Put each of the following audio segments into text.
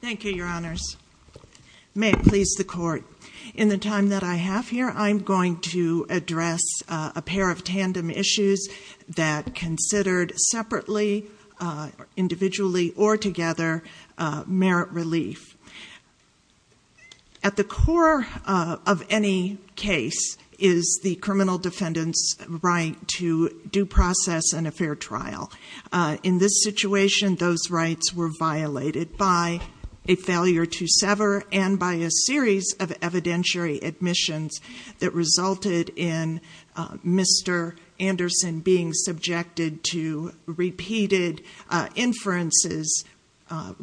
Thank you, your honors. May it please the court. In the time that I have here, I'm going to address a pair of tandem issues that considered separately, individually or together, merit relief. At the core of any case is the criminal defendant's right to due process and a fair trial. In this situation, those rights were violated by a failure to sever and by a series of evidentiary admissions that resulted in Mr. Anderson being subjected to repeated inferences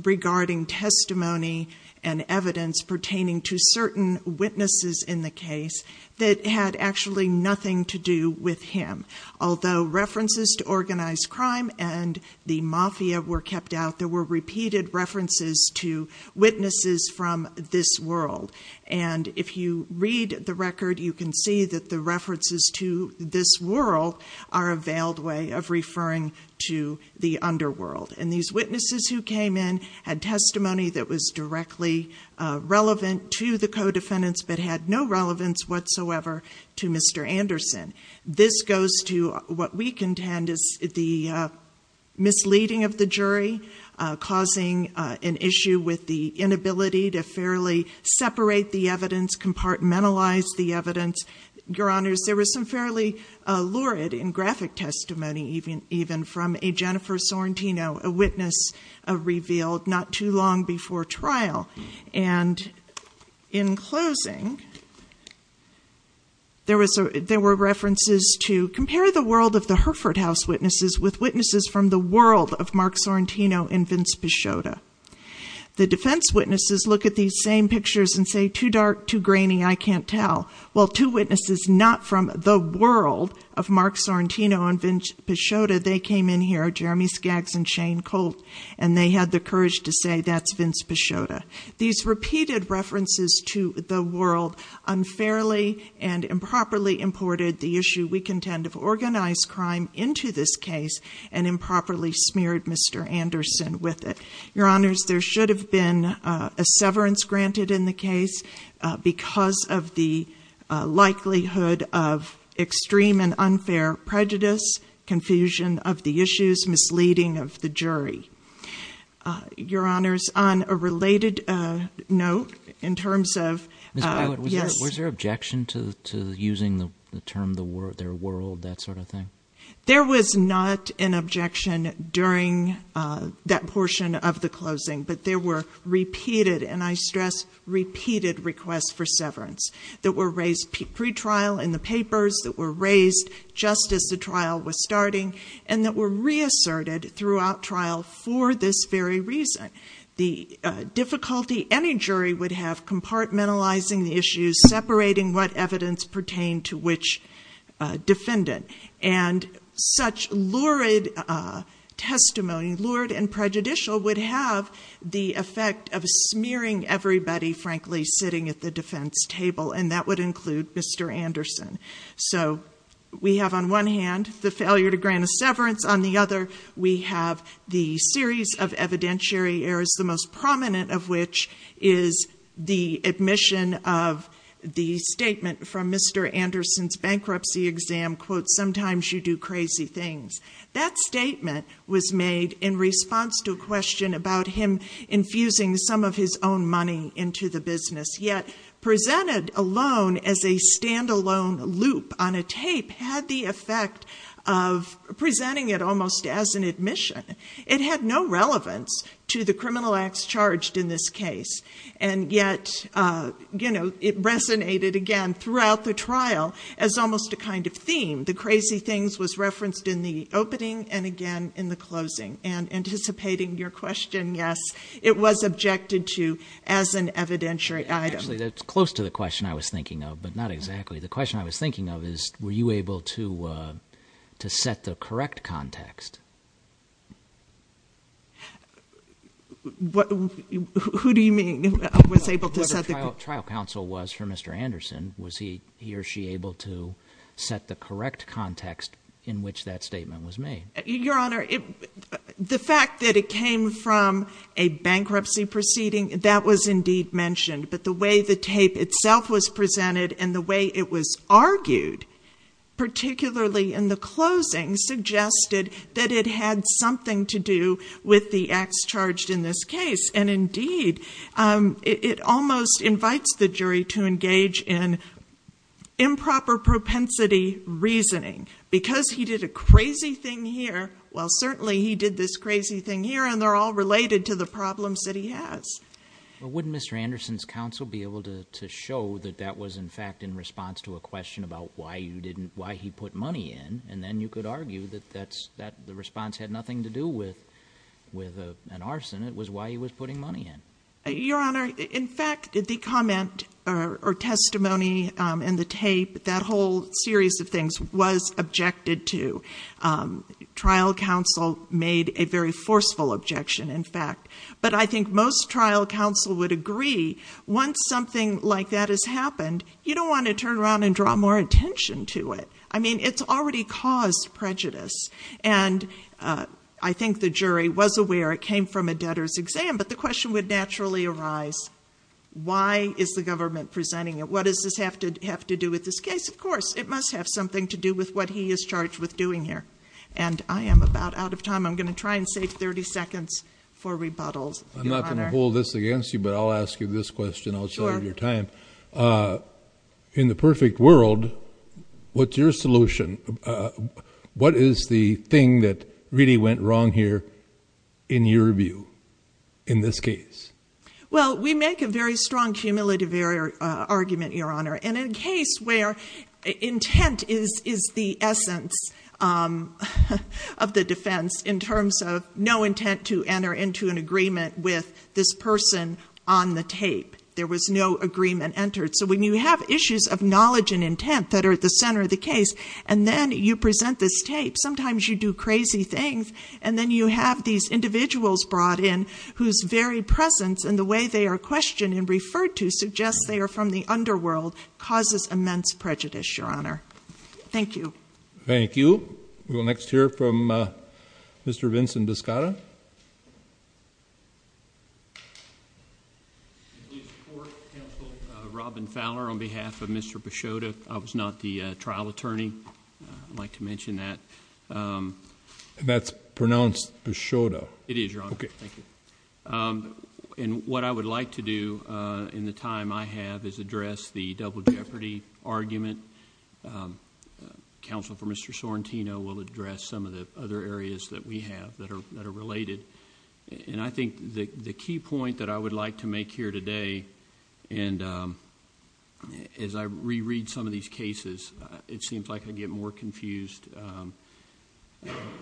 regarding testimony and evidence pertaining to certain witnesses in the case that had actually nothing to do with him. Although references to organized crime and the mafia were kept out, there were repeated references to witnesses from this world. And if you read the record, you can see that the references to this world are a veiled way of referring to the underworld. And these witnesses who came in had testimony that was directly relevant to the co-defendants but had no relevance whatsoever to Mr. Anderson. This goes to what we contend is the misleading of the jury, causing an issue with the inability to fairly separate the evidence, compartmentalize the evidence. Your honors, there was some fairly lurid and graphic testimony even from a Jennifer Sorrentino, a witness revealed not too long before trial. And in closing, there were references to compare the world of the Herford House witnesses with witnesses from the world of Mark Sorrentino and Vince Pichotta. The defense witnesses look at these same pictures and say, too dark, too grainy, I can't tell. Well, two witnesses not from the world of Mark Sorrentino and Vince Pichotta, they came in here, Jeremy Skaggs and Shane Colt, and they had the courage to say that's Vince Pichotta. These repeated references to the world unfairly and improperly imported the issue we contend of organized crime into this case and improperly smeared Mr. Anderson with it. Your honors, there should have been a severance granted in the case because of the likelihood of extreme and unfair prejudice, confusion of the issues, misleading of the jury. Your honors, on a related note, in terms of... Ms. Bywood, was there objection to using the term their world, that sort of thing? There was not an objection during that portion of the closing, but there were repeated, and I stress repeated, requests for severance that were raised pre-trial in the papers, that were raised just as the trial was starting, and that were reasserted throughout trial for this very reason. The difficulty any jury would have compartmentalizing the issues, separating what evidence pertained to which defendant, and such lurid testimony, lurid and prejudicial, would have the effect of smearing everybody, frankly, sitting at the So, we have on one hand, the failure to grant a severance. On the other, we have the series of evidentiary errors, the most prominent of which is the admission of the statement from Mr. Anderson's bankruptcy exam, quote, sometimes you do crazy things. That statement was made in response to a question about him infusing some of his own money into the business, yet presented alone as a stand-alone loop on a tape, had the effect of presenting it almost as an admission. It had no relevance to the criminal acts charged in this case, and yet, you know, it resonated again throughout the trial as almost a kind of theme. The crazy things was referenced in the opening, and again in the closing, and anticipating your question, yes, it was objected to as an evidentiary item. Actually, that's close to the question I was thinking of, but not exactly. The question I was thinking of is, were you able to set the correct context? What, who do you mean, was able to set the correct context? The trial counsel was for Mr. Anderson. Was he or she able to set the correct context in which that statement was made? Your Honor, the fact that it came from a bankruptcy proceeding, that was indeed mentioned. But the way the tape itself was presented, and the way it was argued, particularly in the closing, suggested that it had something to do with the acts charged in this case. And indeed, it almost invites the jury to engage in improper propensity reasoning. Because he did a crazy thing here, well, certainly he did this crazy thing here, and they're all related to the problems that he has. But wouldn't Mr. Anderson's counsel be able to show that that was, in fact, in response to a question about why you didn't, why he put money in, and then you could argue that that's, that the response had nothing to do with an arson. It was why he was putting money in. Your Honor, in fact, the comment or testimony in the tape, that whole series of things was objected to. Trial counsel made a very forceful objection, in fact. But I think most trial counsel would agree, once something like that has happened, you don't want to turn around and draw more attention to it. I mean, it's already caused prejudice. And I think the jury was aware it came from a debtor's exam. But the question would naturally arise, why is the government presenting it? What does this have to do with this case? Of course, it must have something to do with what he is charged with doing here. And I am about out of time. I'm going to try and save 30 seconds for rebuttals. I'm not going to hold this against you, but I'll ask you this question. I'll save your time. Sure. In the perfect world, what's your solution? What is the thing that really went wrong here in your view, in this case? Well, we make a very strong cumulative error argument, Your Honor. And in a case where intent is the essence of the defense, in terms of no intent to enter into an agreement with this person on the tape, there was no agreement entered. So when you have issues of knowledge and intent that are at the center of the case, and then you present this tape, sometimes you do crazy things, and then you have these individuals brought in whose very presence and the way they are questioned and referred to suggests they are from the underworld, causes immense prejudice, Your Honor. Thank you. Thank you. We will next hear from Mr. Vincent Biscotta. I do support counsel Robin Fowler on behalf of Mr. Bishoda. I was not the trial attorney. I'd like to mention that. And that's pronounced Bishoda. It is, Your Honor. Okay. Thank you. And what I would like to do in the time I have is address the double jeopardy argument. Counsel for Mr. Sorrentino will address some of the other areas that we have that are related. And I think the key point that I would like to make here today, and as I reread some of these cases, it seems like I get more confused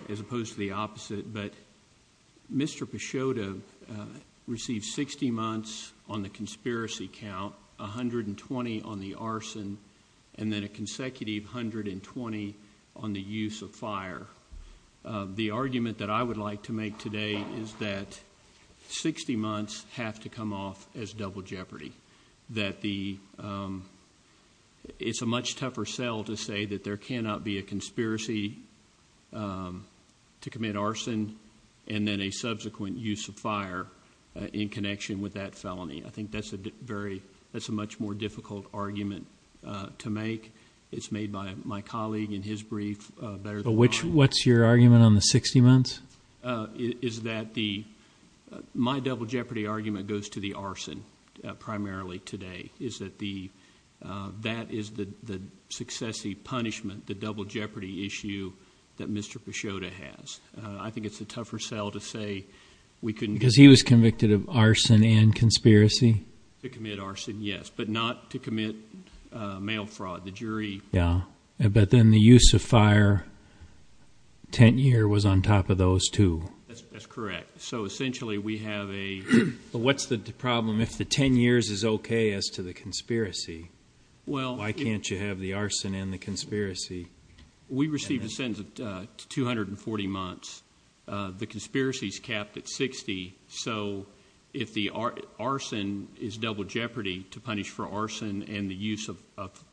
as opposed to the opposite, but Mr. Bishoda received 60 months on the conspiracy count, 120 on the arson, and then a consecutive 120 on the use of fire. The argument that I would like to make today is that 60 months have to come off as double jeopardy. It's a much tougher sell to say that there cannot be a conspiracy to commit arson and then a subsequent use of fire in connection with that felony. I think that's a much more difficult argument to make. It's made by my colleague in his brief. What's your argument on the 60 months? My double jeopardy argument goes to the arson primarily today. That is the successive punishment, the double jeopardy issue that Mr. Bishoda has. I think it's a tougher sell to say we couldn't... Because he was convicted of arson and conspiracy? To commit arson, yes, but not to commit mail fraud. The jury... But then the use of fire, 10 year, was on top of those two. That's correct. So essentially we have a... What's the problem if the 10 years is okay as to the conspiracy? Why can't you have the arson and the conspiracy? We received a sentence of 240 months. The conspiracy is capped at 60, so if the arson is double jeopardy to punish for arson and the use of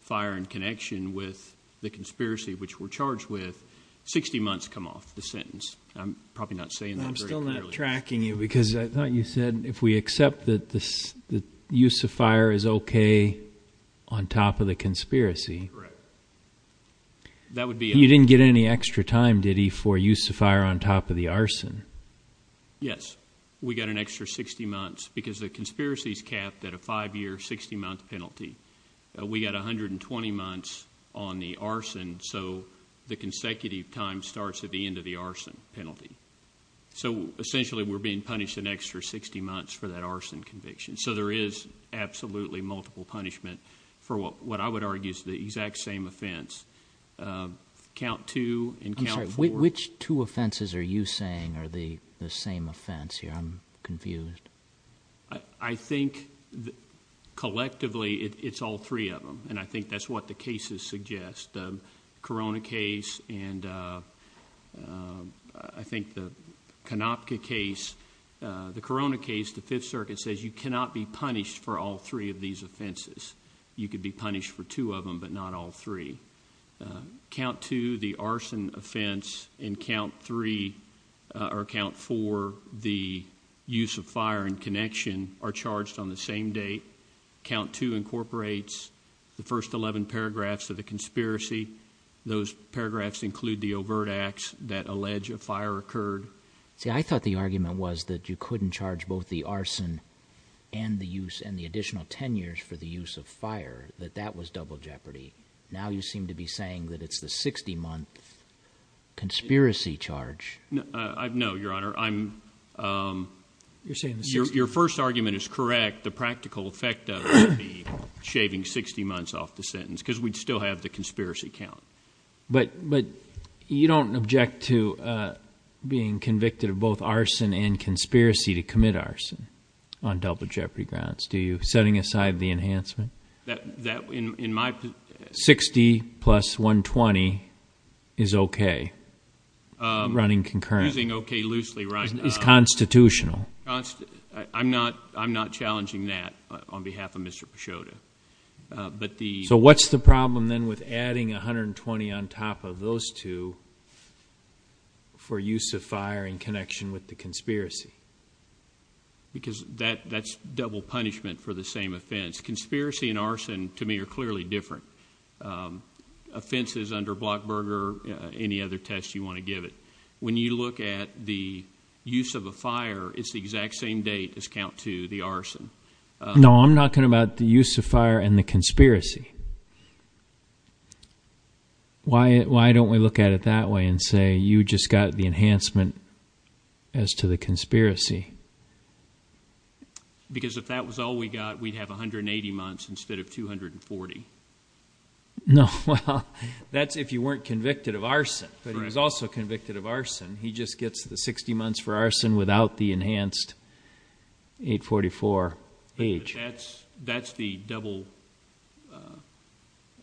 fire in connection with the conspiracy which we're charged with, 60 months come off the sentence. I'm probably not saying that very clearly. I'm still not tracking you because I thought you said if we accept that the use of fire is okay on top of the conspiracy... Correct. You didn't get any extra time, did he, for use of fire on top of the arson? Yes. We got an extra 60 months because the conspiracy is capped at a 5 year, 60 month penalty. We got 120 months on the arson, so the consecutive time starts at the end of the arson penalty. So essentially we're being punished an extra 60 months for that arson conviction. So there is absolutely multiple punishment for what I would argue is the exact same offense. Count two and count four. I'm sorry, which two offenses are you saying are the same offense here? I'm confused. I think collectively it's all three of them, and I think that's what the cases suggest. The Corona case and I think the Konopka case. The Corona case, the Fifth Circuit says you cannot be punished for all three of these offenses. You could be punished for two of them, but not all three. Count two, the arson offense, and count three or count four, the use of fire and connection, are charged on the same date. Count two incorporates the first 11 paragraphs of the conspiracy. Those paragraphs include the overt acts that allege a fire occurred. See, I thought the argument was that you couldn't charge both the arson and the additional 10 years for the use of fire, that that was double jeopardy. Now you seem to be saying that it's the 60-month conspiracy charge. No, Your Honor. Your first argument is correct. The practical effect of it would be shaving 60 months off the sentence because we'd still have the conspiracy count. But you don't object to being convicted of both arson and conspiracy to commit arson on double jeopardy grounds, do you, setting aside the enhancement? That, in my— 60 plus 120 is okay, running concurrent. Using okay loosely, right. It's constitutional. I'm not challenging that on behalf of Mr. Pasciotta. So what's the problem then with adding 120 on top of those two for use of fire in connection with the conspiracy? Because that's double punishment for the same offense. Conspiracy and arson, to me, are clearly different. Offenses under Blockberger, any other test you want to give it. When you look at the use of a fire, it's the exact same date as count two, the arson. No, I'm talking about the use of fire and the conspiracy. Why don't we look at it that way and say you just got the enhancement as to the conspiracy? Because if that was all we got, we'd have 180 months instead of 240. No, well, that's if you weren't convicted of arson, but he was also convicted of arson. He just gets the 60 months for arson without the enhanced 844 age. But that's the double,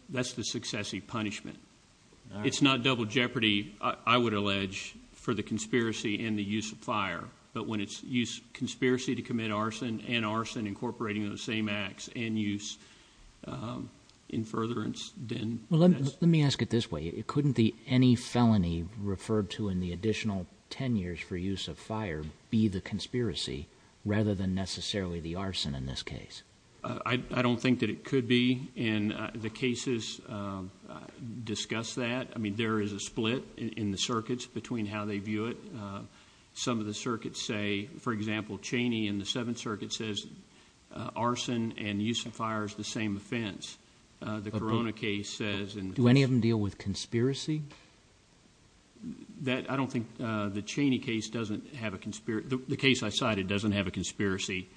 that's the successive punishment. It's not double jeopardy, I would allege, for the conspiracy and the use of fire. But when it's use conspiracy to commit arson and arson incorporating those same acts and use in furtherance, then that's- for use of fire be the conspiracy rather than necessarily the arson in this case? I don't think that it could be. And the cases discuss that. I mean, there is a split in the circuits between how they view it. Some of the circuits say, for example, Cheney in the Seventh Circuit says arson and use of fire is the same offense. The Corona case says- Do any of them deal with conspiracy? I don't think the Cheney case doesn't have a conspiracy- the case I cited doesn't have a conspiracy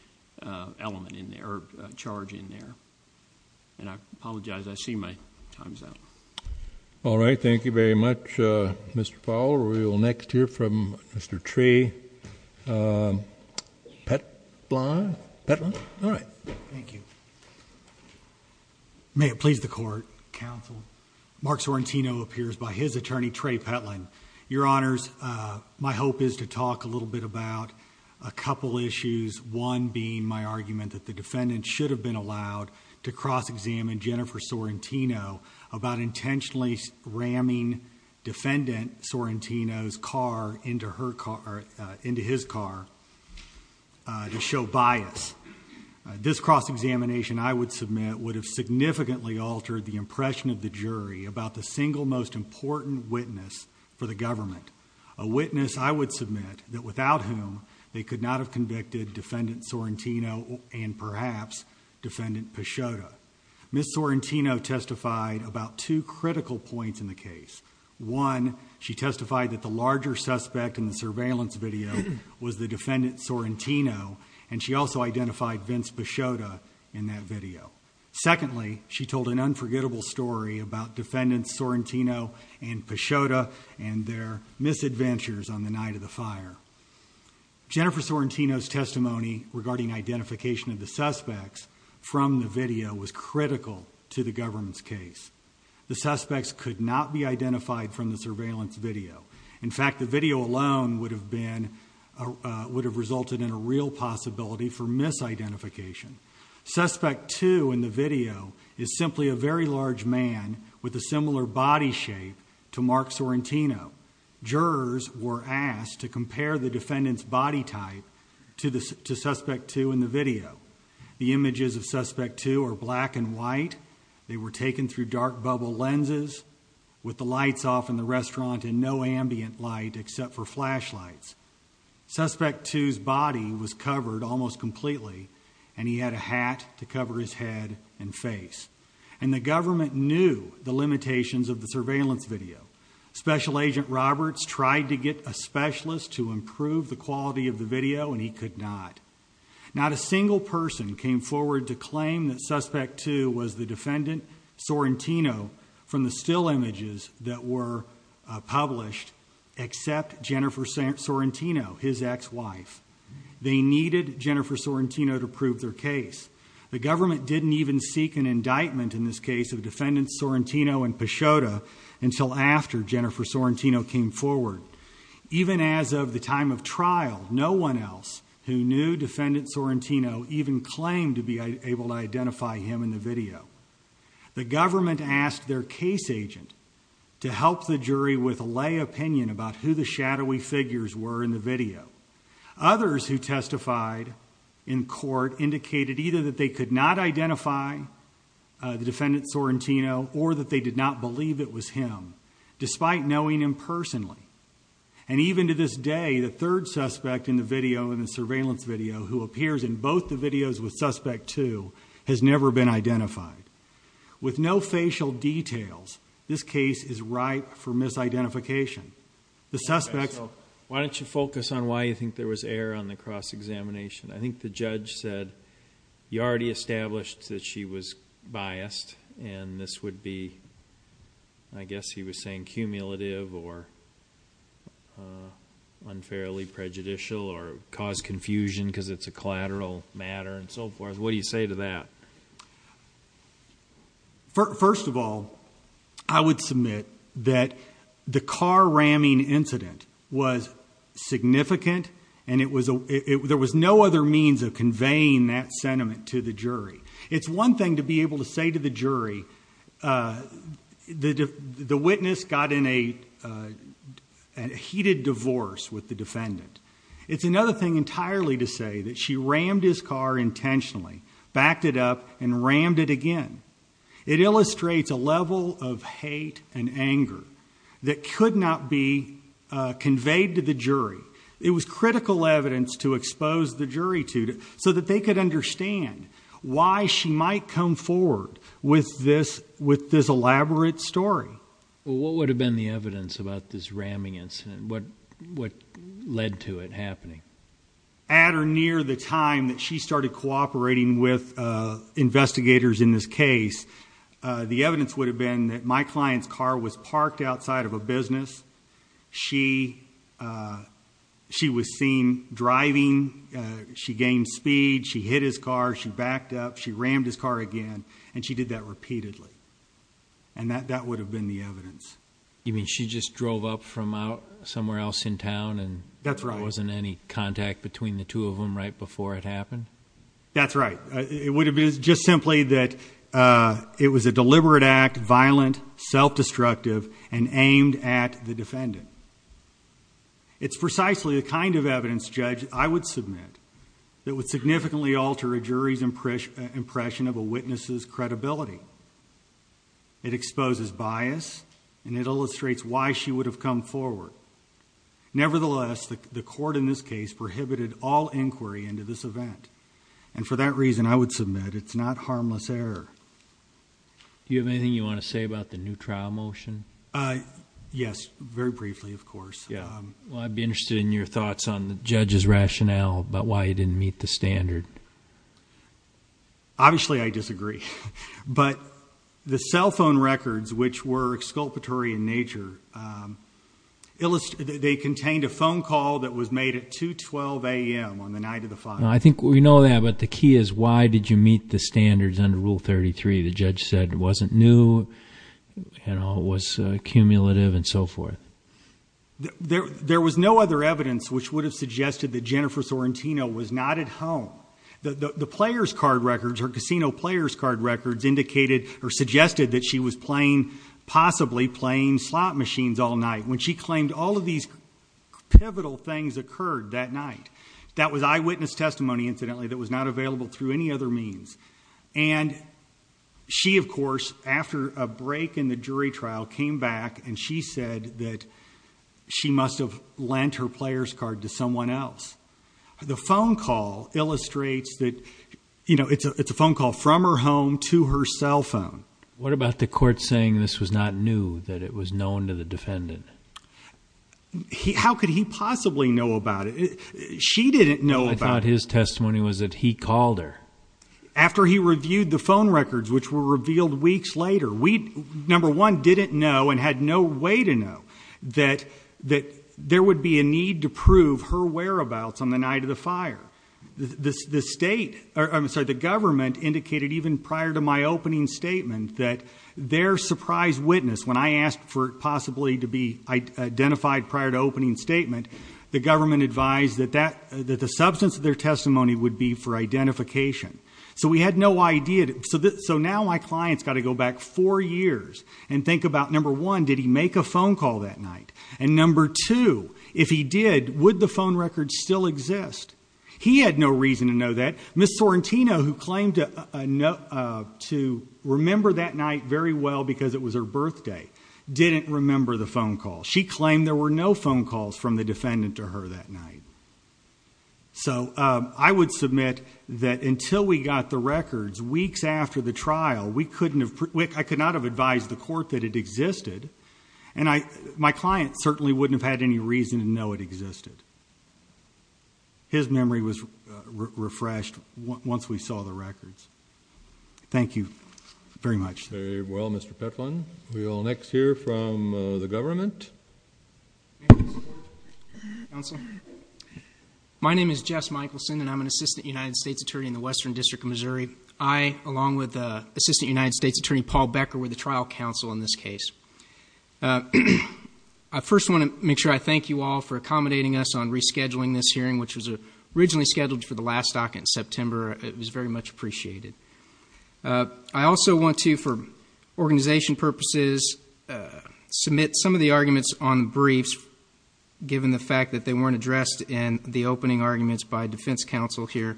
element in there or charge in there. And I apologize, I see my time's up. All right, thank you very much, Mr. Powell. We will next hear from Mr. Trey Petlin. Petlin, all right. Thank you. May it please the Court, counsel, Mark Sorrentino appears by his attorney, Trey Petlin. Your Honors, my hope is to talk a little bit about a couple issues, one being my argument that the defendant should have been allowed to cross-examine Jennifer Sorrentino about intentionally ramming defendant Sorrentino's car into his car to show bias. This cross-examination, I would submit, would have significantly altered the impression of the jury about the single most important witness for the government, a witness, I would submit, that without whom they could not have convicted defendant Sorrentino and perhaps defendant Peixota. Ms. Sorrentino testified about two critical points in the case. One, she testified that the larger suspect in the surveillance video was the defendant Sorrentino and she also identified Vince Peixota in that video. Secondly, she told an unforgettable story about defendants Sorrentino and Peixota and their misadventures on the night of the fire. Jennifer Sorrentino's testimony regarding identification of the suspects from the video was critical to the government's case. The suspects could not be identified from the surveillance video. In fact, the video alone would have resulted in a real possibility for misidentification. Suspect 2 in the video is simply a very large man with a similar body shape to Mark Sorrentino. Jurors were asked to compare the defendant's body type to suspect 2 in the video. The images of suspect 2 are black and white. They were taken through dark bubble lenses with the lights off in the restaurant and no ambient light except for flashlights. Suspect 2's body was covered almost completely and he had a hat to cover his head and face. And the government knew the limitations of the surveillance video. Special Agent Roberts tried to get a specialist to improve the quality of the video and he could not. Not a single person came forward to claim that suspect 2 was the defendant Sorrentino from the still images that were published except Jennifer Sorrentino, his ex-wife. They needed Jennifer Sorrentino to prove their case. The government didn't even seek an indictment in this case of defendants Sorrentino and Peixota until after Jennifer Sorrentino came forward. Even as of the time of trial, no one else who knew defendant Sorrentino even claimed to be able to identify him in the video. The government asked their case agent to help the jury with a lay opinion about who the shadowy figures were in the video. Others who testified in court indicated either that they could not identify the defendant Sorrentino or that they did not believe it was him despite knowing him personally. And even to this day, the third suspect in the surveillance video who appears in both the videos with suspect 2 has never been identified. With no facial details, this case is ripe for misidentification. Why don't you focus on why you think there was error on the cross-examination. I think the judge said you already established that she was biased and this would be, I guess he was saying cumulative or unfairly prejudicial or cause confusion because it's a collateral matter and so forth. What do you say to that? First of all, I would submit that the car ramming incident was significant and there was no other means of conveying that sentiment to the jury. It's one thing to be able to say to the jury the witness got in a heated divorce with the defendant. It's another thing entirely to say that she rammed his car intentionally, backed it up and rammed it again. It illustrates a level of hate and anger that could not be conveyed to the jury. It was critical evidence to expose the jury to so that they could understand why she might come forward with this elaborate story. What would have been the evidence about this ramming incident? What led to it happening? At or near the time that she started cooperating with investigators in this case, the evidence would have been that my client's car was parked outside of a business. She was seen driving. She gained speed. She hit his car. She backed up. She rammed his car again, and she did that repeatedly. That would have been the evidence. You mean she just drove up from somewhere else in town and there wasn't any contact between the two of them right before it happened? That's right. It would have been just simply that it was a deliberate act, violent, self-destructive, and aimed at the defendant. It's precisely the kind of evidence, Judge, I would submit, that would significantly alter a jury's impression of a witness's credibility. It exposes bias, and it illustrates why she would have come forward. Nevertheless, the court in this case prohibited all inquiry into this event, and for that reason, I would submit, it's not harmless error. Do you have anything you want to say about the new trial motion? Yes, very briefly, of course. I'd be interested in your thoughts on the judge's rationale about why he didn't meet the standard. Obviously, I disagree. But the cell phone records, which were exculpatory in nature, they contained a phone call that was made at 2.12 a.m. on the night of the fire. I think we know that, but the key is why did you meet the standards under Rule 33? The judge said it wasn't new, it was cumulative, and so forth. There was no other evidence which would have suggested that Jennifer Sorrentino was not at home. The players' card records, her casino players' card records, suggested that she was possibly playing slot machines all night when she claimed all of these pivotal things occurred that night. That was eyewitness testimony, incidentally, that was not available through any other means. And she, of course, after a break in the jury trial, came back and she said that she must have lent her players' card to someone else. The phone call illustrates that it's a phone call from her home to her cell phone. What about the court saying this was not new, that it was known to the defendant? How could he possibly know about it? She didn't know about it. I thought his testimony was that he called her. After he reviewed the phone records, which were revealed weeks later, we, number one, didn't know and had no way to know that there would be a need to prove her whereabouts on the night of the fire. The government indicated even prior to my opening statement that their surprise witness, when I asked for it possibly to be identified prior to opening statement, the government advised that the substance of their testimony would be for identification. So we had no idea. So now my client's got to go back four years and think about, number one, did he make a phone call that night? And number two, if he did, would the phone records still exist? He had no reason to know that. Ms. Sorrentino, who claimed to remember that night very well because it was her birthday, didn't remember the phone call. She claimed there were no phone calls from the defendant to her that night. So I would submit that until we got the records weeks after the trial, I could not have advised the court that it existed, and my client certainly wouldn't have had any reason to know it existed. His memory was refreshed once we saw the records. Thank you very much. Very well, Mr. Petlin. We will next hear from the government. My name is Jess Michelson, and I'm an Assistant United States Attorney in the Western District of Missouri. I, along with Assistant United States Attorney Paul Becker, were the trial counsel in this case. I first want to make sure I thank you all for accommodating us on rescheduling this hearing, which was originally scheduled for the last docket in September. It was very much appreciated. I also want to, for organization purposes, submit some of the arguments on the briefs, given the fact that they weren't addressed in the opening arguments by defense counsel here.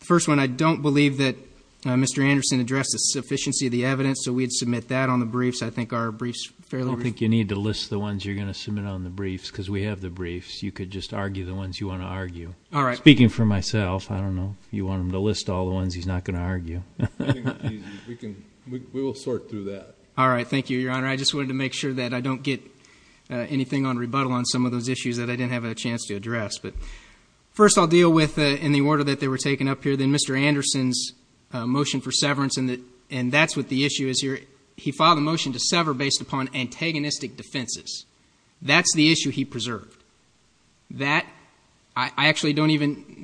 The first one, I don't believe that Mr. Anderson addressed the sufficiency of the evidence, so we'd submit that on the briefs. I think our briefs are fairly brief. I don't think you need to list the ones you're going to submit on the briefs, because we have the briefs. You could just argue the ones you want to argue. All right. Speaking for myself, I don't know if you want him to list all the ones he's not going to argue. We will sort through that. All right. Thank you, Your Honor. I just wanted to make sure that I don't get anything on rebuttal on some of those issues that I didn't have a chance to address. First, I'll deal with, in the order that they were taken up here, then Mr. Anderson's motion for severance, and that's what the issue is here. He filed a motion to sever based upon antagonistic defenses. That's the issue he preserved. I actually didn't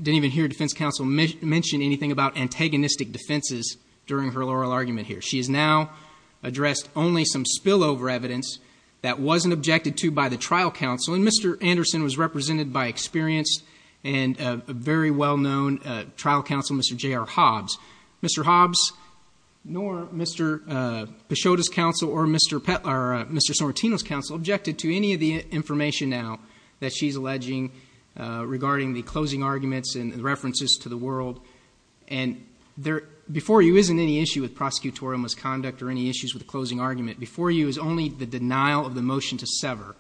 even hear defense counsel mention anything about antagonistic defenses during her oral argument here. She has now addressed only some spillover evidence that wasn't objected to by the trial counsel, and Mr. Anderson was represented by experienced and a very well-known trial counsel, Mr. J.R. Hobbs. Mr. Hobbs nor Mr. Peixota's counsel or Mr. Sorrentino's counsel objected to any of the information now that she's alleging regarding the closing arguments and references to the world. And before you isn't any issue with prosecutorial misconduct or any issues with the closing argument. Before you is only the denial of the motion to sever,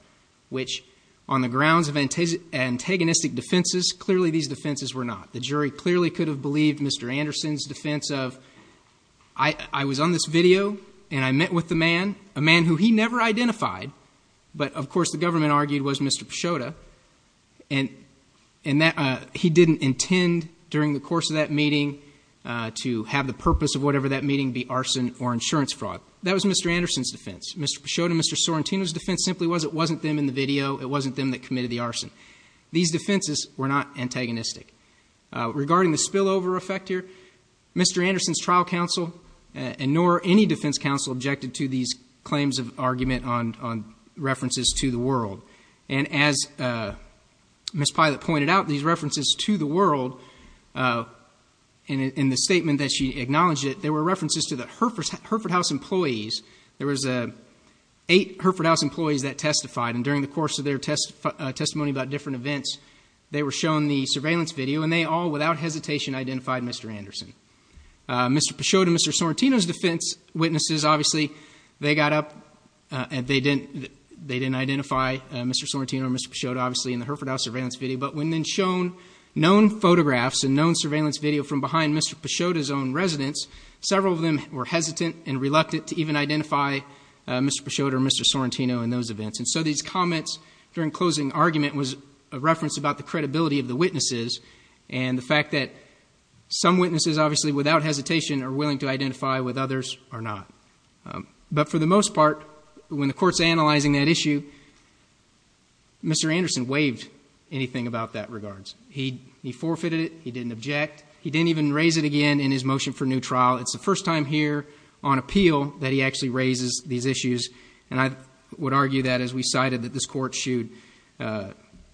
which on the grounds of antagonistic defenses, clearly these defenses were not. The jury clearly could have believed Mr. Anderson's defense of, I was on this video and I met with the man, a man who he never identified, but of course the government argued was Mr. Peixota, and he didn't intend during the course of that meeting to have the purpose of whatever that meeting be arson or insurance fraud. That was Mr. Anderson's defense. Mr. Peixota and Mr. Sorrentino's defense simply was it wasn't them in the video. It wasn't them that committed the arson. These defenses were not antagonistic. Regarding the spillover effect here, Mr. Anderson's trial counsel and nor any defense counsel objected to these claims of argument on references to the world. And as Ms. Pilot pointed out, these references to the world in the statement that she acknowledged it, there were references to the Herford House employees. There was eight Herford House employees that testified, and during the course of their testimony about different events, they were shown the surveillance video, and they all without hesitation identified Mr. Anderson. Mr. Peixota and Mr. Sorrentino's defense witnesses, obviously they got up and they didn't identify Mr. Sorrentino or Mr. Peixota obviously in the Herford House surveillance video, but when then shown known photographs and known surveillance video from behind Mr. Peixota's own residence, several of them were hesitant and reluctant to even identify Mr. Peixota or Mr. Sorrentino in those events. And so these comments during closing argument was a reference about the credibility of the witnesses and the fact that some witnesses obviously without hesitation are willing to identify with others or not. But for the most part, when the court's analyzing that issue, Mr. Anderson waived anything about that regards. He forfeited it. He didn't object. He didn't even raise it again in his motion for new trial. It's the first time here on appeal that he actually raises these issues, and I would argue that as we cited that this court should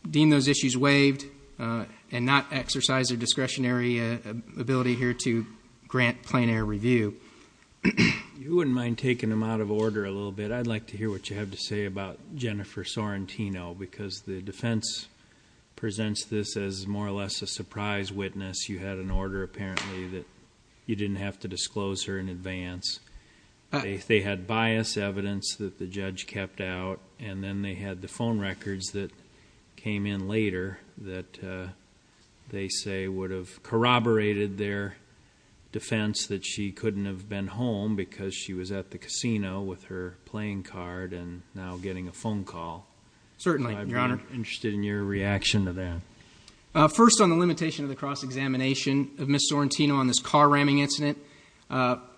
deem those issues waived and not exercise their discretionary ability here to grant plein air review. You wouldn't mind taking them out of order a little bit. But I'd like to hear what you have to say about Jennifer Sorrentino, because the defense presents this as more or less a surprise witness. You had an order apparently that you didn't have to disclose her in advance. They had bias evidence that the judge kept out, and then they had the phone records that came in later that they say would have corroborated their defense that she couldn't have been home because she was at the casino with her playing card and now getting a phone call. Certainly, Your Honor. I'd be interested in your reaction to that. First, on the limitation of the cross-examination of Ms. Sorrentino on this car-ramming incident,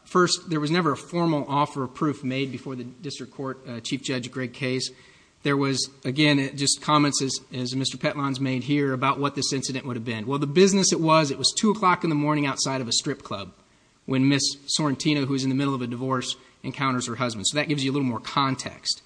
first, there was never a formal offer of proof made before the district court, Chief Judge Greg Case. There was, again, just comments, as Mr. Petlons made here, about what this incident would have been. Well, the business it was, it was 2 o'clock in the morning outside of a strip club when Ms. Sorrentino, who was in the middle of a divorce, encounters her husband. So that gives you a little more context.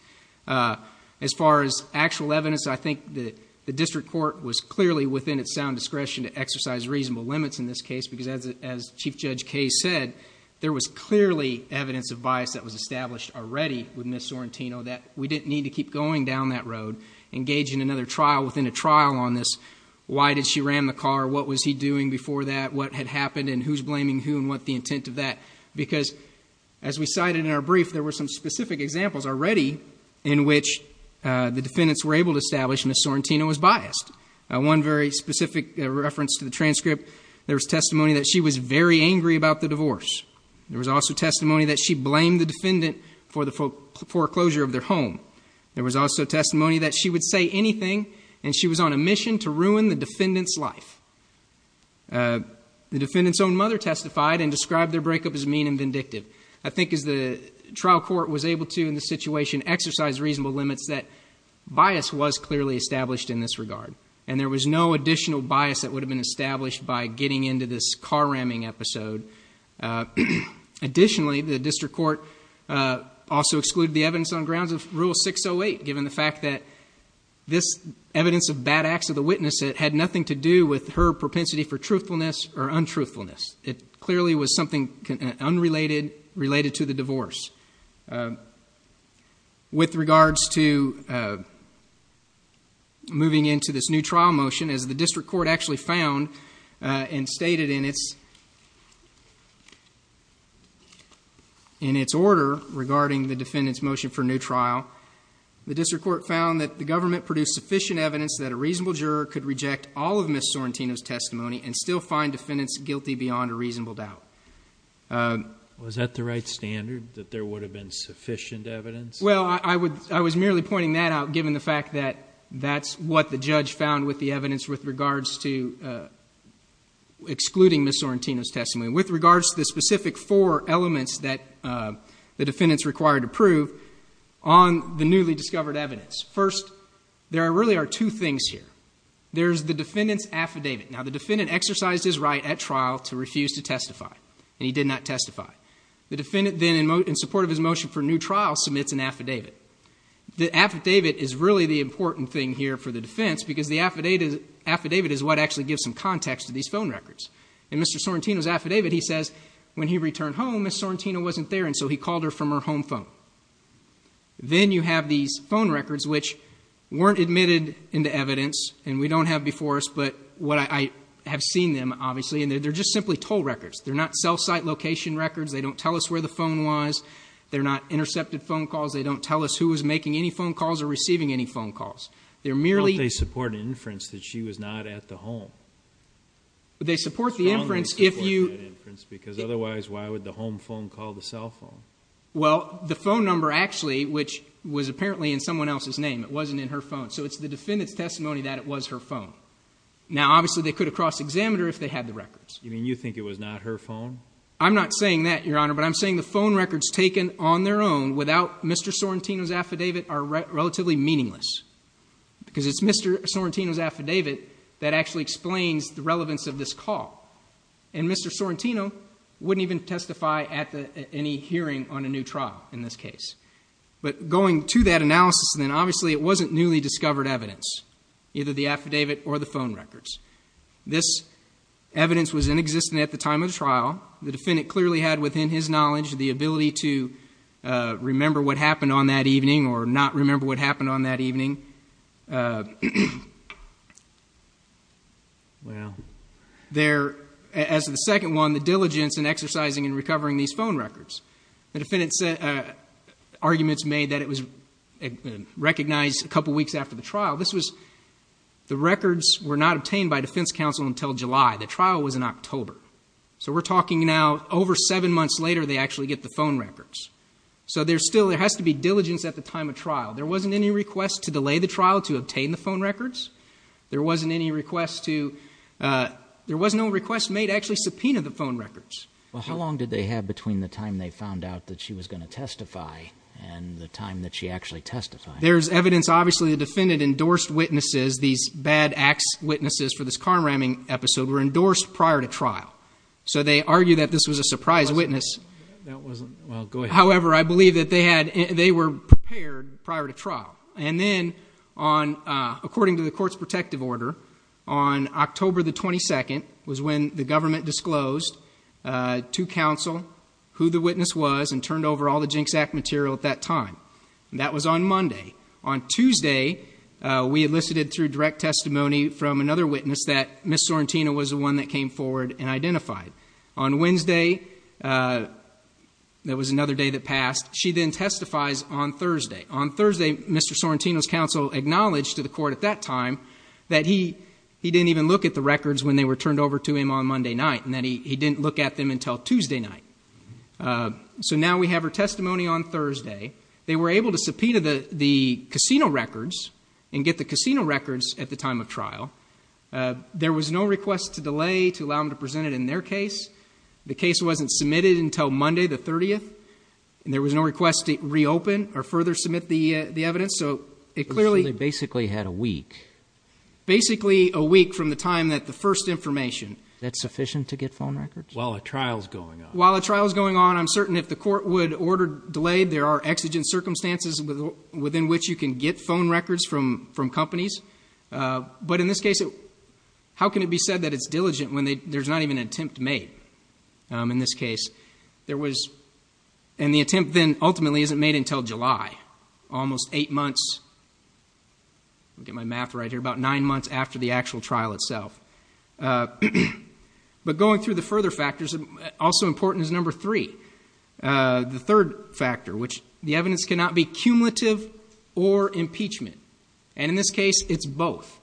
As far as actual evidence, I think that the district court was clearly within its sound discretion to exercise reasonable limits in this case because, as Chief Judge Case said, there was clearly evidence of bias that was established already with Ms. Sorrentino that we didn't need to keep going down that road, engage in another trial within a trial on this. Why did she ram the car? What was he doing before that? What had happened and who's blaming who and what the intent of that? Because, as we cited in our brief, there were some specific examples already in which the defendants were able to establish Ms. Sorrentino was biased. One very specific reference to the transcript, there was testimony that she was very angry about the divorce. There was also testimony that she blamed the defendant for the foreclosure of their home. There was also testimony that she would say anything and she was on a mission to ruin the defendant's life. The defendant's own mother testified and described their breakup as mean and vindictive. I think as the trial court was able to, in this situation, exercise reasonable limits, that bias was clearly established in this regard, and there was no additional bias that would have been established by getting into this car-ramming episode. Additionally, the district court also excluded the evidence on grounds of Rule 608, given the fact that this evidence of bad acts of the witness had nothing to do with her propensity for truthfulness or untruthfulness. It clearly was something unrelated, related to the divorce. With regards to moving into this new trial motion, as the district court actually found and stated in its order regarding the defendant's motion for new trial, the district court found that the government produced sufficient evidence that a reasonable juror could reject all of Ms. Sorrentino's testimony and still find defendants guilty beyond a reasonable doubt. Was that the right standard, that there would have been sufficient evidence? Well, I was merely pointing that out, given the fact that that's what the judge found with the evidence with regards to excluding Ms. Sorrentino's testimony, with regards to the specific four elements that the defendants required to prove on the newly discovered evidence. First, there really are two things here. There's the defendant's affidavit. Now, the defendant exercised his right at trial to refuse to testify, and he did not testify. The defendant then, in support of his motion for new trial, submits an affidavit. The affidavit is really the important thing here for the defense, because the affidavit is what actually gives some context to these phone records. In Mr. Sorrentino's affidavit, he says, when he returned home, Ms. Sorrentino wasn't there, and so he called her from her home phone. Then you have these phone records, which weren't admitted into evidence, and we don't have before us, but I have seen them, obviously, and they're just simply toll records. They're not cell site location records. They don't tell us where the phone was. They're not intercepted phone calls. They don't tell us who was making any phone calls or receiving any phone calls. They're merely ---- But they support an inference that she was not at the home. But they support the inference if you ---- Strongly support that inference, because otherwise, why would the home phone call the cell phone? Well, the phone number, actually, which was apparently in someone else's name, it wasn't in her phone, so it's the defendant's testimony that it was her phone. Now, obviously, they could have crossed-examined her if they had the records. You mean you think it was not her phone? I'm not saying that, Your Honor, but I'm saying the phone records taken on their own, without Mr. Sorrentino's affidavit, are relatively meaningless, because it's Mr. Sorrentino's affidavit that actually explains the relevance of this call, and Mr. Sorrentino wouldn't even testify at any hearing on a new trial in this case. But going to that analysis, then, obviously, it wasn't newly discovered evidence, either the affidavit or the phone records. This evidence was inexistent at the time of the trial. The defendant clearly had within his knowledge the ability to remember what happened on that evening or not remember what happened on that evening. Well. There, as to the second one, the diligence in exercising and recovering these phone records. The defendant's arguments made that it was recognized a couple weeks after the trial. This was the records were not obtained by defense counsel until July. The trial was in October. So we're talking now over seven months later they actually get the phone records. So there's still, there has to be diligence at the time of trial. There wasn't any request to delay the trial to obtain the phone records. There wasn't any request to, there was no request made to actually subpoena the phone records. Well, how long did they have between the time they found out that she was going to testify and the time that she actually testified? There's evidence obviously the defendant endorsed witnesses, these bad acts witnesses for this car ramming episode were endorsed prior to trial. So they argue that this was a surprise witness. That wasn't, well, go ahead. However, I believe that they had, they were prepared prior to trial. And then on, according to the court's protective order, on October the 22nd was when the government disclosed to counsel who the witness was and turned over all the Jinx Act material at that time. And that was on Monday. On Tuesday, we elicited through direct testimony from another witness that Ms. Sorrentino was the one that came forward and identified. On Wednesday, that was another day that passed, she then testifies on Thursday. On Thursday, Mr. Sorrentino's counsel acknowledged to the court at that time that he didn't even look at the records when they were turned over to him on Monday night and that he didn't look at them until Tuesday night. So now we have her testimony on Thursday. They were able to subpoena the casino records and get the casino records at the time of trial. There was no request to delay to allow them to present it in their case. The case wasn't submitted until Monday the 30th. And there was no request to reopen or further submit the evidence. So it clearly… So they basically had a week. Basically a week from the time that the first information… Is that sufficient to get phone records? While a trial is going on. While a trial is going on, I'm certain if the court would order delay, there are exigent circumstances within which you can get phone records from companies. But in this case, how can it be said that it's diligent when there's not even an attempt made? In this case, there was… And the attempt then ultimately isn't made until July, almost eight months. I'll get my math right here. About nine months after the actual trial itself. But going through the further factors, also important is number three. The third factor, which the evidence cannot be cumulative or impeachment. And in this case, it's both.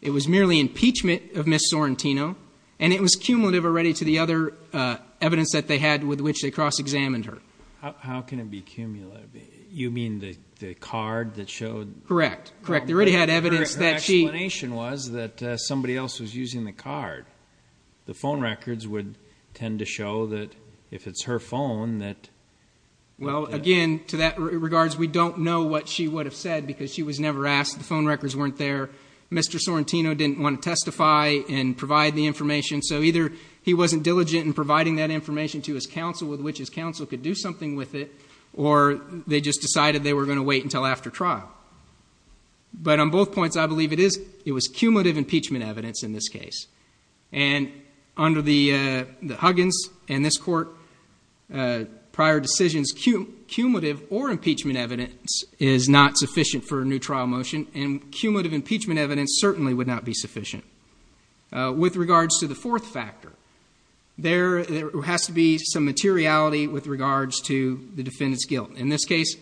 It was merely impeachment of Ms. Sorrentino, and it was cumulative already to the other evidence that they had with which they cross-examined her. How can it be cumulative? You mean the card that showed… Correct, correct. They already had evidence that she… The phone records would tend to show that if it's her phone that… Well, again, to that regard, we don't know what she would have said because she was never asked. The phone records weren't there. Mr. Sorrentino didn't want to testify and provide the information. So either he wasn't diligent in providing that information to his counsel, with which his counsel could do something with it, or they just decided they were going to wait until after trial. But on both points, I believe it was cumulative impeachment evidence in this case. And under the Huggins and this Court prior decisions, cumulative or impeachment evidence is not sufficient for a new trial motion, and cumulative impeachment evidence certainly would not be sufficient. With regards to the fourth factor, there has to be some materiality with regards to the defendant's guilt. In this case,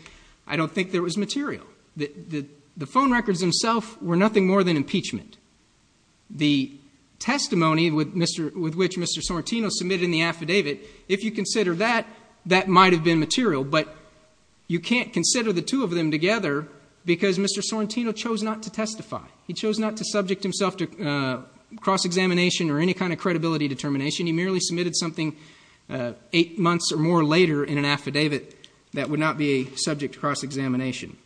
I don't think there was material. The phone records themselves were nothing more than impeachment. The testimony with which Mr. Sorrentino submitted in the affidavit, if you consider that, that might have been material, but you can't consider the two of them together because Mr. Sorrentino chose not to testify. He chose not to subject himself to cross-examination or any kind of credibility determination. He merely submitted something eight months or more later in an affidavit that would not be subject to cross-examination.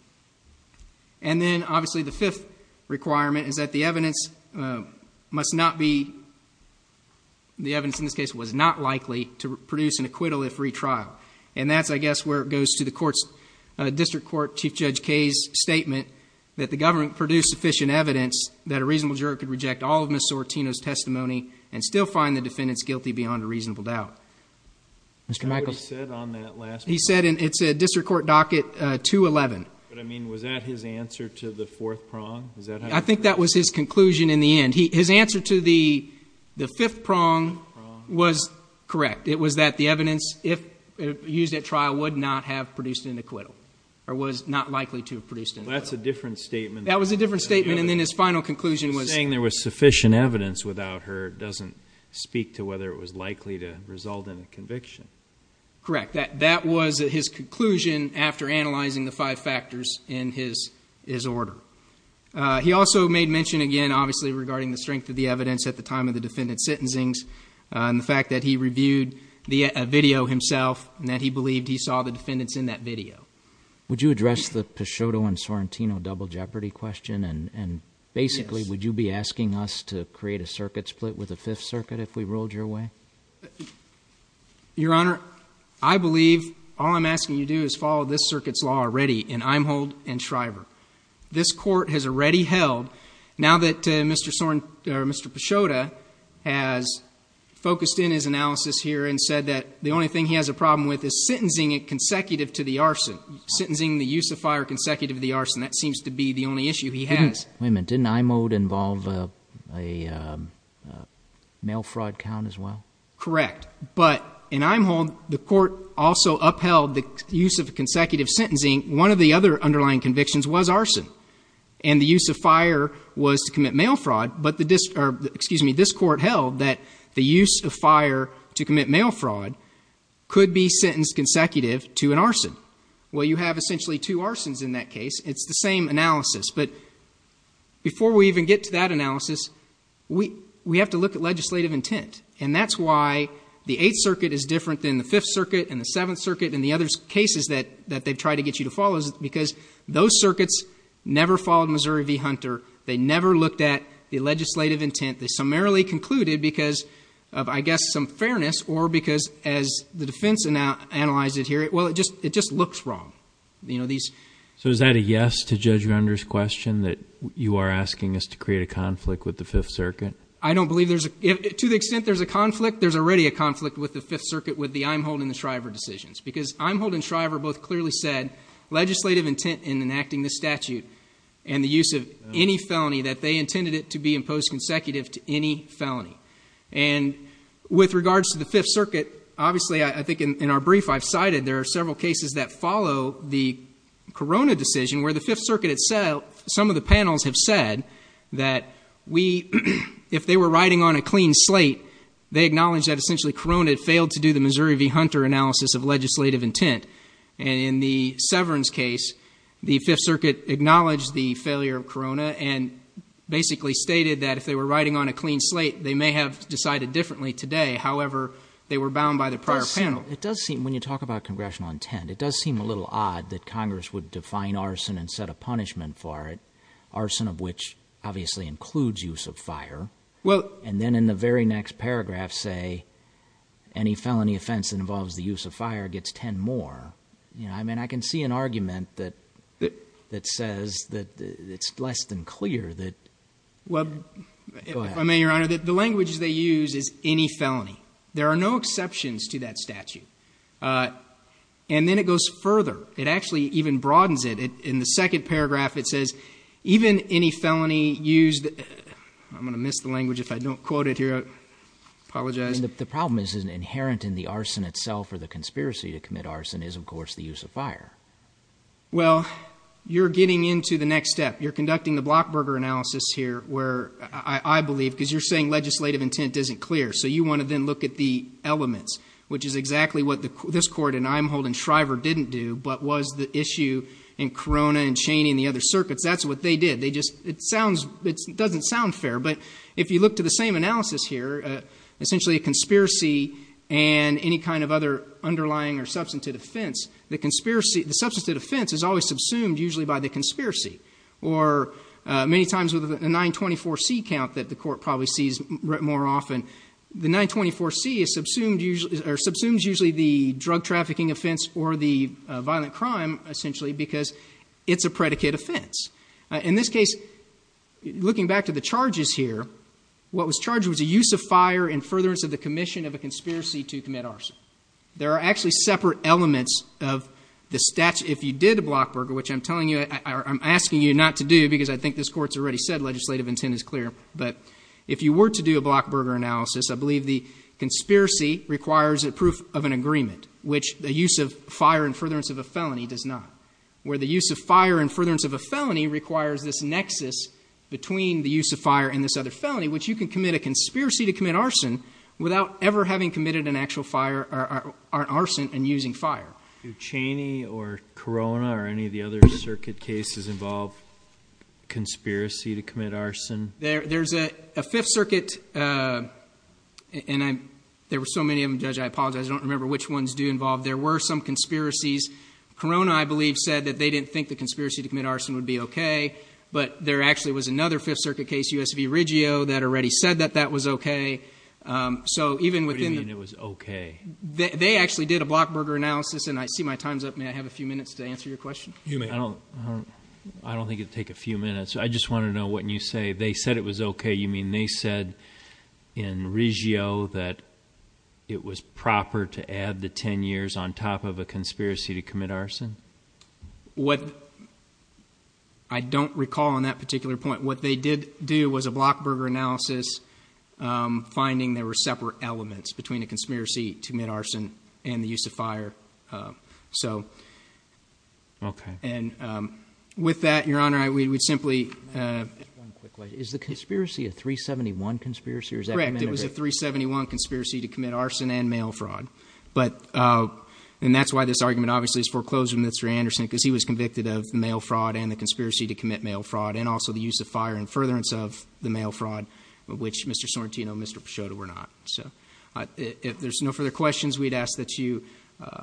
And then, obviously, the fifth requirement is that the evidence must not be— the evidence in this case was not likely to produce an acquittal if retrialed. And that's, I guess, where it goes to the District Court Chief Judge Kaye's statement that the government produced sufficient evidence that a reasonable juror could reject all of Mr. Sorrentino's testimony and still find the defendants guilty beyond a reasonable doubt. Mr. Michaels. What did he say on that last point? He said it's a District Court docket 211. But, I mean, was that his answer to the fourth prong? I think that was his conclusion in the end. His answer to the fifth prong was correct. It was that the evidence, if used at trial, would not have produced an acquittal or was not likely to have produced an acquittal. That's a different statement. That was a different statement, and then his final conclusion was— it doesn't speak to whether it was likely to result in a conviction. Correct. That was his conclusion after analyzing the five factors in his order. He also made mention again, obviously, regarding the strength of the evidence at the time of the defendant's sentencings and the fact that he reviewed the video himself and that he believed he saw the defendants in that video. Would you address the Picciotto and Sorrentino double jeopardy question? Yes. Basically, would you be asking us to create a circuit split with the Fifth Circuit if we ruled your way? Your Honor, I believe all I'm asking you to do is follow this circuit's law already in Eimhold and Shriver. This Court has already held, now that Mr. Picciotto has focused in his analysis here and said that the only thing he has a problem with is sentencing it consecutive to the arson, sentencing the use of fire consecutive to the arson. That seems to be the only issue he has. Wait a minute. Didn't Eimhold involve a mail fraud count as well? Correct. But in Eimhold, the Court also upheld the use of consecutive sentencing. One of the other underlying convictions was arson, and the use of fire was to commit mail fraud. But this Court held that the use of fire to commit mail fraud could be sentenced consecutive to an arson. Well, you have essentially two arsons in that case. It's the same analysis. But before we even get to that analysis, we have to look at legislative intent, and that's why the Eighth Circuit is different than the Fifth Circuit and the Seventh Circuit and the other cases that they've tried to get you to follow, because those circuits never followed Missouri v. Hunter. They never looked at the legislative intent. They summarily concluded because of, I guess, some fairness or because, as the defense analyzed it here, well, it just looks wrong. So is that a yes to Judge Render's question, that you are asking us to create a conflict with the Fifth Circuit? I don't believe there's a conflict. To the extent there's a conflict, there's already a conflict with the Fifth Circuit with the Eimhold and the Shriver decisions, because Eimhold and Shriver both clearly said legislative intent in enacting this statute and the use of any felony that they intended it to be imposed consecutive to any felony. And with regards to the Fifth Circuit, obviously I think in our brief I've cited there are several cases that follow the Corona decision where the Fifth Circuit itself, some of the panels have said that we, if they were riding on a clean slate, they acknowledged that essentially Corona had failed to do the Missouri v. Hunter analysis of legislative intent. And in the Severance case, the Fifth Circuit acknowledged the failure of Corona and basically stated that if they were riding on a clean slate, they may have decided differently today. However, they were bound by the prior panel. It does seem, when you talk about congressional intent, it does seem a little odd that Congress would define arson and set a punishment for it, arson of which obviously includes use of fire, and then in the very next paragraph say any felony offense that involves the use of fire gets 10 more. I mean, I can see an argument that says that it's less than clear that go ahead. If I may, Your Honor, the language they use is any felony. There are no exceptions to that statute. And then it goes further. It actually even broadens it. In the second paragraph, it says even any felony used. I'm going to miss the language if I don't quote it here. I apologize. The problem is inherent in the arson itself or the conspiracy to commit arson is, of course, the use of fire. Well, you're getting into the next step. You're conducting the Blockburger analysis here where I believe, because you're saying legislative intent isn't clear, so you want to then look at the elements, which is exactly what this Court in Eimhold and Shriver didn't do, but was the issue in Corona and Chaney and the other circuits. That's what they did. It doesn't sound fair, but if you look to the same analysis here, essentially a conspiracy and any kind of other underlying or substantive offense, the substantive offense is always subsumed usually by the conspiracy. Or many times with a 924C count that the Court probably sees more often, the 924C subsumes usually the drug trafficking offense or the violent crime, essentially, because it's a predicate offense. In this case, looking back to the charges here, what was charged was a use of fire in furtherance of the commission of a conspiracy to commit arson. There are actually separate elements of the statute if you did a Blockburger, which I'm asking you not to do because I think this Court's already said legislative intent is clear. But if you were to do a Blockburger analysis, I believe the conspiracy requires a proof of an agreement, which the use of fire in furtherance of a felony does not, where the use of fire in furtherance of a felony requires this nexus between the use of fire and this other felony, which you can commit a conspiracy to commit arson without ever having committed an actual arson and using fire. Do Cheney or Corona or any of the other circuit cases involve conspiracy to commit arson? There's a Fifth Circuit, and there were so many of them, Judge, I apologize. I don't remember which ones do involve. There were some conspiracies. Corona, I believe, said that they didn't think the conspiracy to commit arson would be okay, but there actually was another Fifth Circuit case, U.S. v. Riggio, that already said that that was okay. What do you mean it was okay? They actually did a Blockburger analysis, and I see my time's up. May I have a few minutes to answer your question? You may. I don't think it would take a few minutes. I just want to know what you say. They said it was okay. You mean they said in Riggio that it was proper to add the 10 years on top of a conspiracy to commit arson? I don't recall on that particular point. What they did do was a Blockburger analysis, finding there were separate elements between a conspiracy to commit arson and the use of fire. Okay. With that, Your Honor, we would simply— Just one quick question. Is the conspiracy a 371 conspiracy? Correct. It was a 371 conspiracy to commit arson and mail fraud, and that's why this argument obviously is foreclosed on Mr. Anderson because he was convicted of mail fraud and the conspiracy to commit mail fraud, and also the use of fire and furtherance of the mail fraud, which Mr. Sorrentino and Mr. Peixoto were not. If there's no further questions, we'd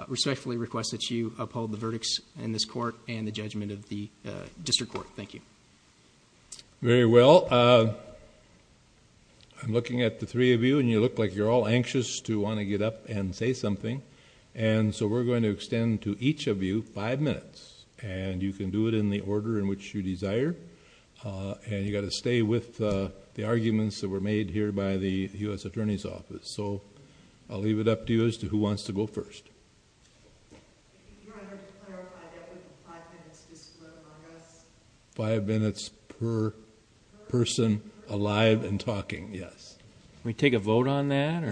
respectfully request that you uphold the verdicts in this court and the judgment of the district court. Thank you. Very well. I'm looking at the three of you, and you look like you're all anxious to want to get up and say something, and so we're going to extend to each of you five minutes, and you can do it in the order in which you desire, and you've got to stay with the arguments that were made here by the U.S. Attorney's Office. So I'll leave it up to you as to who wants to go first. Your Honor, to clarify, that would be five minutes just among us? Five minutes per person alive and talking, yes. Can we take a vote on that?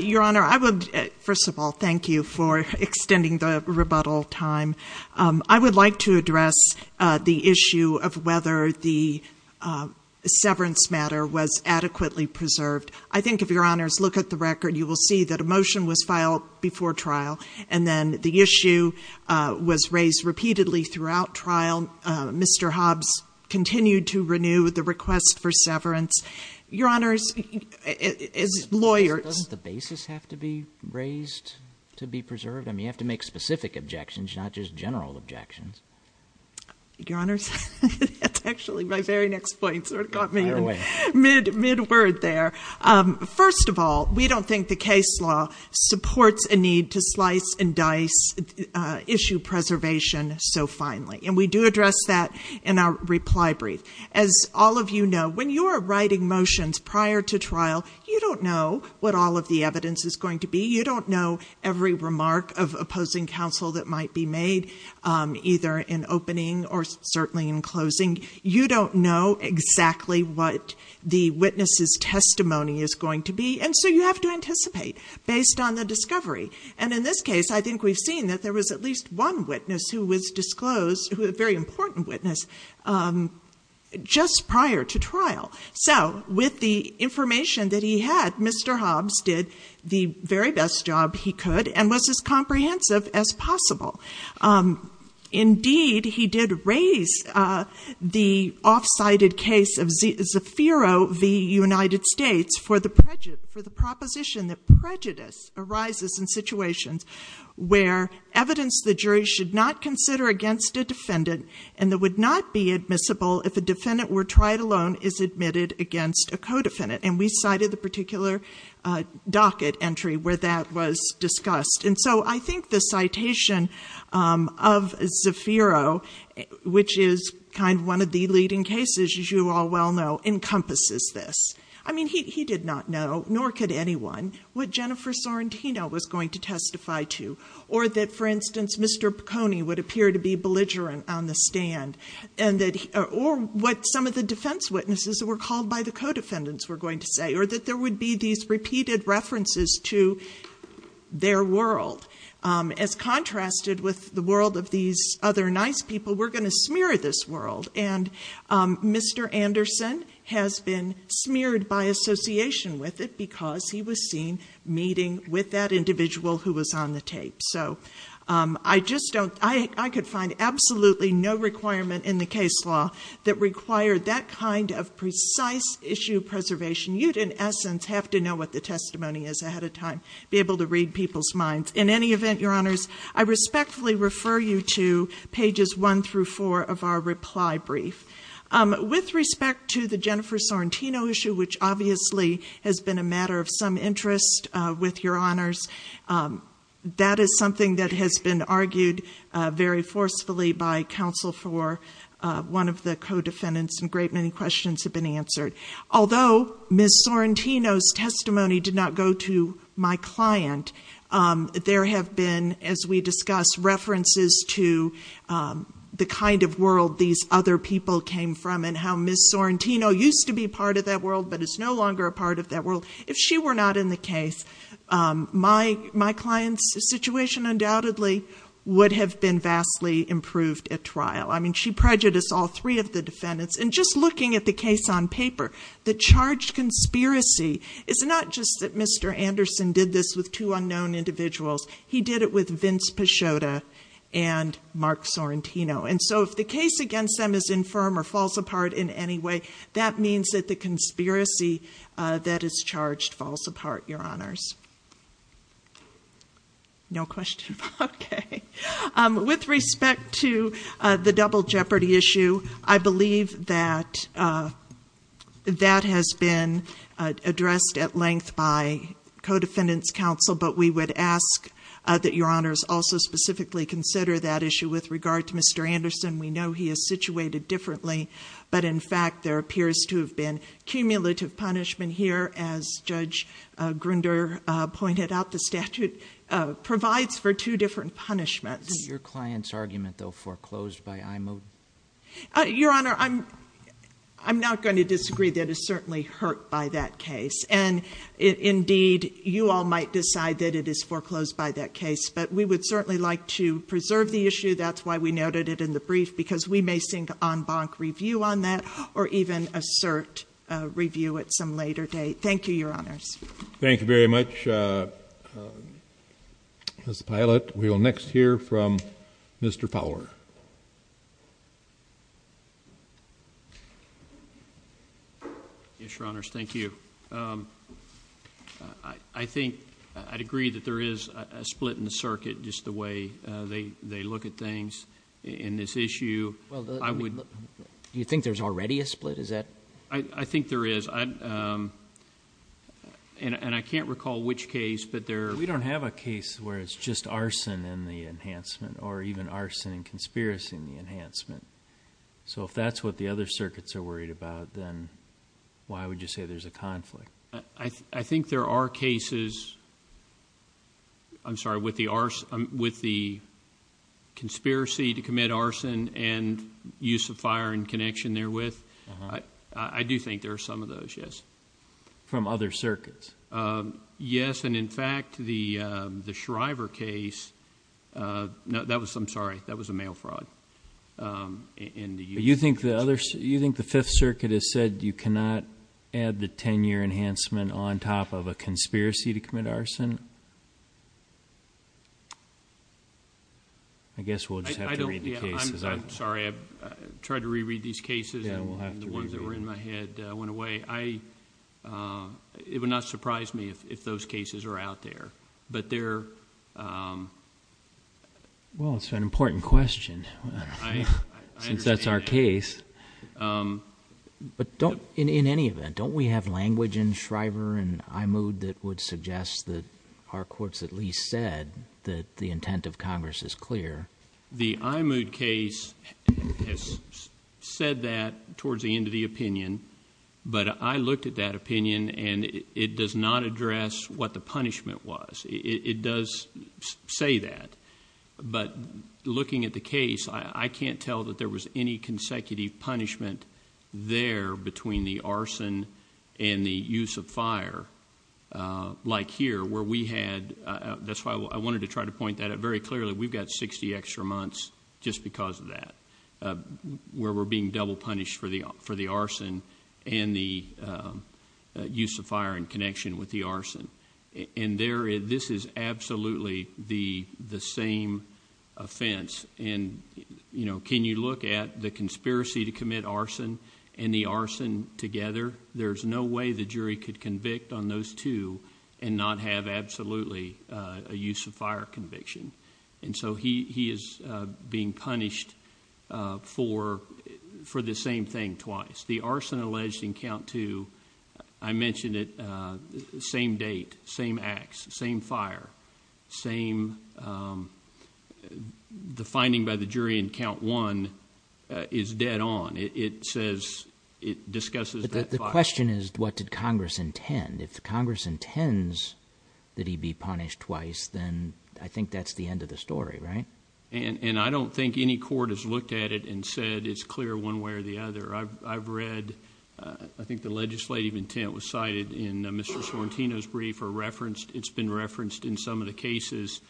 Your Honor, I would, first of all, thank you for extending the rebuttal time. I would like to address the issue of whether the severance matter was adequately preserved. I think if Your Honors look at the record, you will see that a motion was filed before trial, and then the issue was raised repeatedly throughout trial. Mr. Hobbs continued to renew the request for severance. Your Honors, as lawyers ---- Doesn't the basis have to be raised to be preserved? I mean, you have to make specific objections, not just general objections. Your Honors, that's actually my very next point. It sort of got me mid-word there. First of all, we don't think the case law supports a need to slice and dice issue preservation so finely, and we do address that in our reply brief. As all of you know, when you are writing motions prior to trial, you don't know what all of the evidence is going to be. You don't know every remark of opposing counsel that might be made, either in opening or certainly in closing. You don't know exactly what the witness's testimony is going to be, and so you have to anticipate based on the discovery. And in this case, I think we've seen that there was at least one witness who was disclosed, a very important witness, just prior to trial. So with the information that he had, Mr. Hobbs did the very best job he could and was as comprehensive as possible. Indeed, he did raise the off-cited case of Zaffiro v. United States for the proposition that prejudice arises in situations where evidence the jury should not consider against a defendant and that would not be admissible if a defendant were tried alone is admitted against a co-defendant. And we cited the particular docket entry where that was discussed. And so I think the citation of Zaffiro, which is kind of one of the leading cases, as you all well know, encompasses this. I mean, he did not know, nor could anyone, what Jennifer Sorrentino was going to testify to or that, for instance, Mr. Piconi would appear to be belligerent on the stand or what some of the defense witnesses that were called by the co-defendants were going to say or that there would be these repeated references to their world. As contrasted with the world of these other nice people, we're going to smear this world. And Mr. Anderson has been smeared by association with it because he was seen meeting with that individual who was on the tape. So I could find absolutely no requirement in the case law that required that kind of precise issue preservation. You'd, in essence, have to know what the testimony is ahead of time to be able to read people's minds. In any event, Your Honors, I respectfully refer you to pages 1 through 4 of our reply brief. With respect to the Jennifer Sorrentino issue, which obviously has been a matter of some interest with Your Honors, that is something that has been argued very forcefully by counsel for one of the co-defendants, and a great many questions have been answered. Although Ms. Sorrentino's testimony did not go to my client, there have been, as we discussed, references to the kind of world these other people came from and how Ms. Sorrentino used to be part of that world but is no longer a part of that world. If she were not in the case, my client's situation undoubtedly would have been vastly improved at trial. I mean, she prejudiced all three of the defendants. And just looking at the case on paper, the charged conspiracy is not just that Mr. Anderson did this with two unknown individuals. He did it with Vince Pachauda and Mark Sorrentino. And so if the case against them is infirm or falls apart in any way, that means that the conspiracy that is charged falls apart, Your Honors. No questions? Okay. With respect to the double jeopardy issue, I believe that that has been addressed at length by co-defendants' counsel, but we would ask that Your Honors also specifically consider that issue with regard to Mr. Anderson. We know he is situated differently, but in fact, there appears to have been cumulative punishment here. As Judge Grunder pointed out, the statute provides for two different punishments. Is it your client's argument, though, foreclosed by IMO? Your Honor, I'm not going to disagree. That is certainly hurt by that case. And indeed, you all might decide that it is foreclosed by that case. But we would certainly like to preserve the issue. That's why we noted it in the brief, because we may seek en banc review on that or even assert review at some later date. Thank you, Your Honors. Thank you very much, Ms. Pilot. We will next hear from Mr. Fowler. Mr. Fowler. Yes, Your Honors, thank you. I think I'd agree that there is a split in the circuit, just the way they look at things in this issue. Do you think there's already a split? I think there is. And I can't recall which case, but there are. We don't have a case where it's just arson in the enhancement or even arson and conspiracy in the enhancement. So if that's what the other circuits are worried about, then why would you say there's a conflict? I think there are cases, I'm sorry, with the conspiracy to commit arson and use of fire in connection therewith. I do think there are some of those, yes. From other circuits? Yes, and in fact, the Shriver case, I'm sorry, that was a mail fraud. You think the Fifth Circuit has said you cannot add the 10-year enhancement on top of a conspiracy to commit arson? I guess we'll just have to read the cases. I'm sorry, I tried to reread these cases and the ones that were in my head went away. It would not surprise me if those cases are out there, but they're... Well, it's an important question, since that's our case. But in any event, don't we have language in Shriver and Imud that would suggest that our courts at least said that the intent of Congress is clear? The Imud case has said that towards the end of the opinion, but I looked at that opinion and it does not address what the punishment was. It does say that, but looking at the case, I can't tell that there was any consecutive punishment there between the arson and the use of fire, like here, where we had... just because of that, where we're being double punished for the arson and the use of fire in connection with the arson. And this is absolutely the same offense. And can you look at the conspiracy to commit arson and the arson together? There's no way the jury could convict on those two and not have absolutely a use of fire conviction. And so, he is being punished for the same thing twice. The arson alleged in count two, I mentioned it, same date, same acts, same fire, same... The finding by the jury in count one is dead on. It says... it discusses that fire. But the question is, what did Congress intend? If Congress intends that he be punished twice, then I think that's the end of the story, right? And I don't think any court has looked at it and said it's clear one way or the other. I've read... I think the legislative intent was cited in Mr. Sorrentino's brief or referenced. It's been referenced in some of the cases.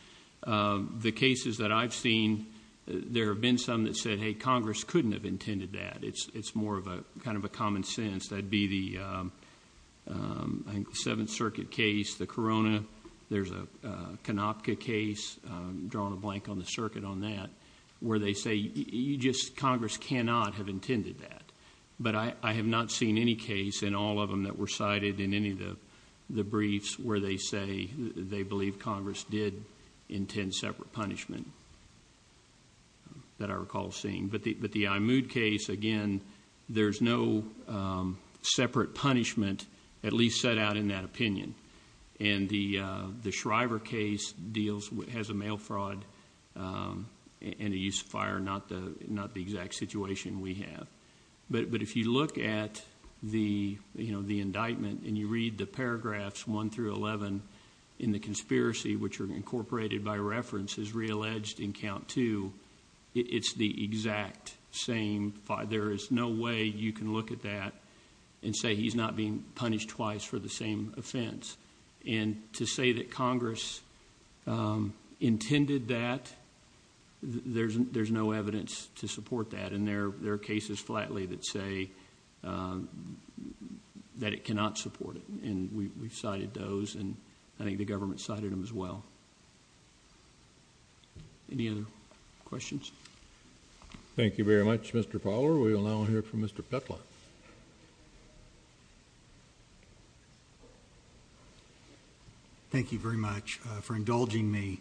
The cases that I've seen, there have been some that said, hey, Congress couldn't have intended that. It's more of a kind of a common sense. That would be the Seventh Circuit case, the Corona. There's a Konopka case, drawing a blank on the circuit on that, where they say, you just... Congress cannot have intended that. But I have not seen any case in all of them that were cited in any of the briefs where they say they believe Congress did intend separate punishment. That I recall seeing. But the Imoud case, again, there's no separate punishment at least set out in that opinion. And the Shriver case deals... has a mail fraud and a use of fire, not the exact situation we have. But if you look at the indictment and you read the paragraphs 1 through 11 in the conspiracy, which are incorporated by reference, as realleged in count 2, it's the exact same... There is no way you can look at that and say he's not being punished twice for the same offense. And to say that Congress intended that, there's no evidence to support that. And there are cases, flatly, that say that it cannot support it. And we've cited those and I think the government cited them as well. Any other questions? Thank you very much, Mr. Fowler. We will now hear from Mr. Petla. Thank you very much for indulging me.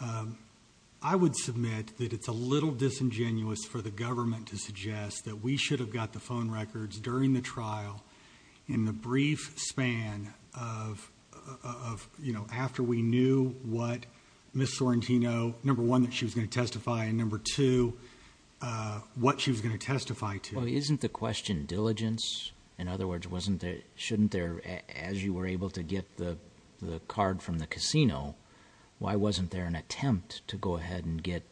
I would submit that it's a little disingenuous for the government to suggest that we should have got the phone records during the trial in the brief span of... you know, after we knew what Ms. Sorrentino... number one, that she was going to testify, and number two, what she was going to testify to. Well, isn't the question diligence? In other words, wasn't there... shouldn't there... as you were able to get the card from the casino, why wasn't there an attempt to go ahead and get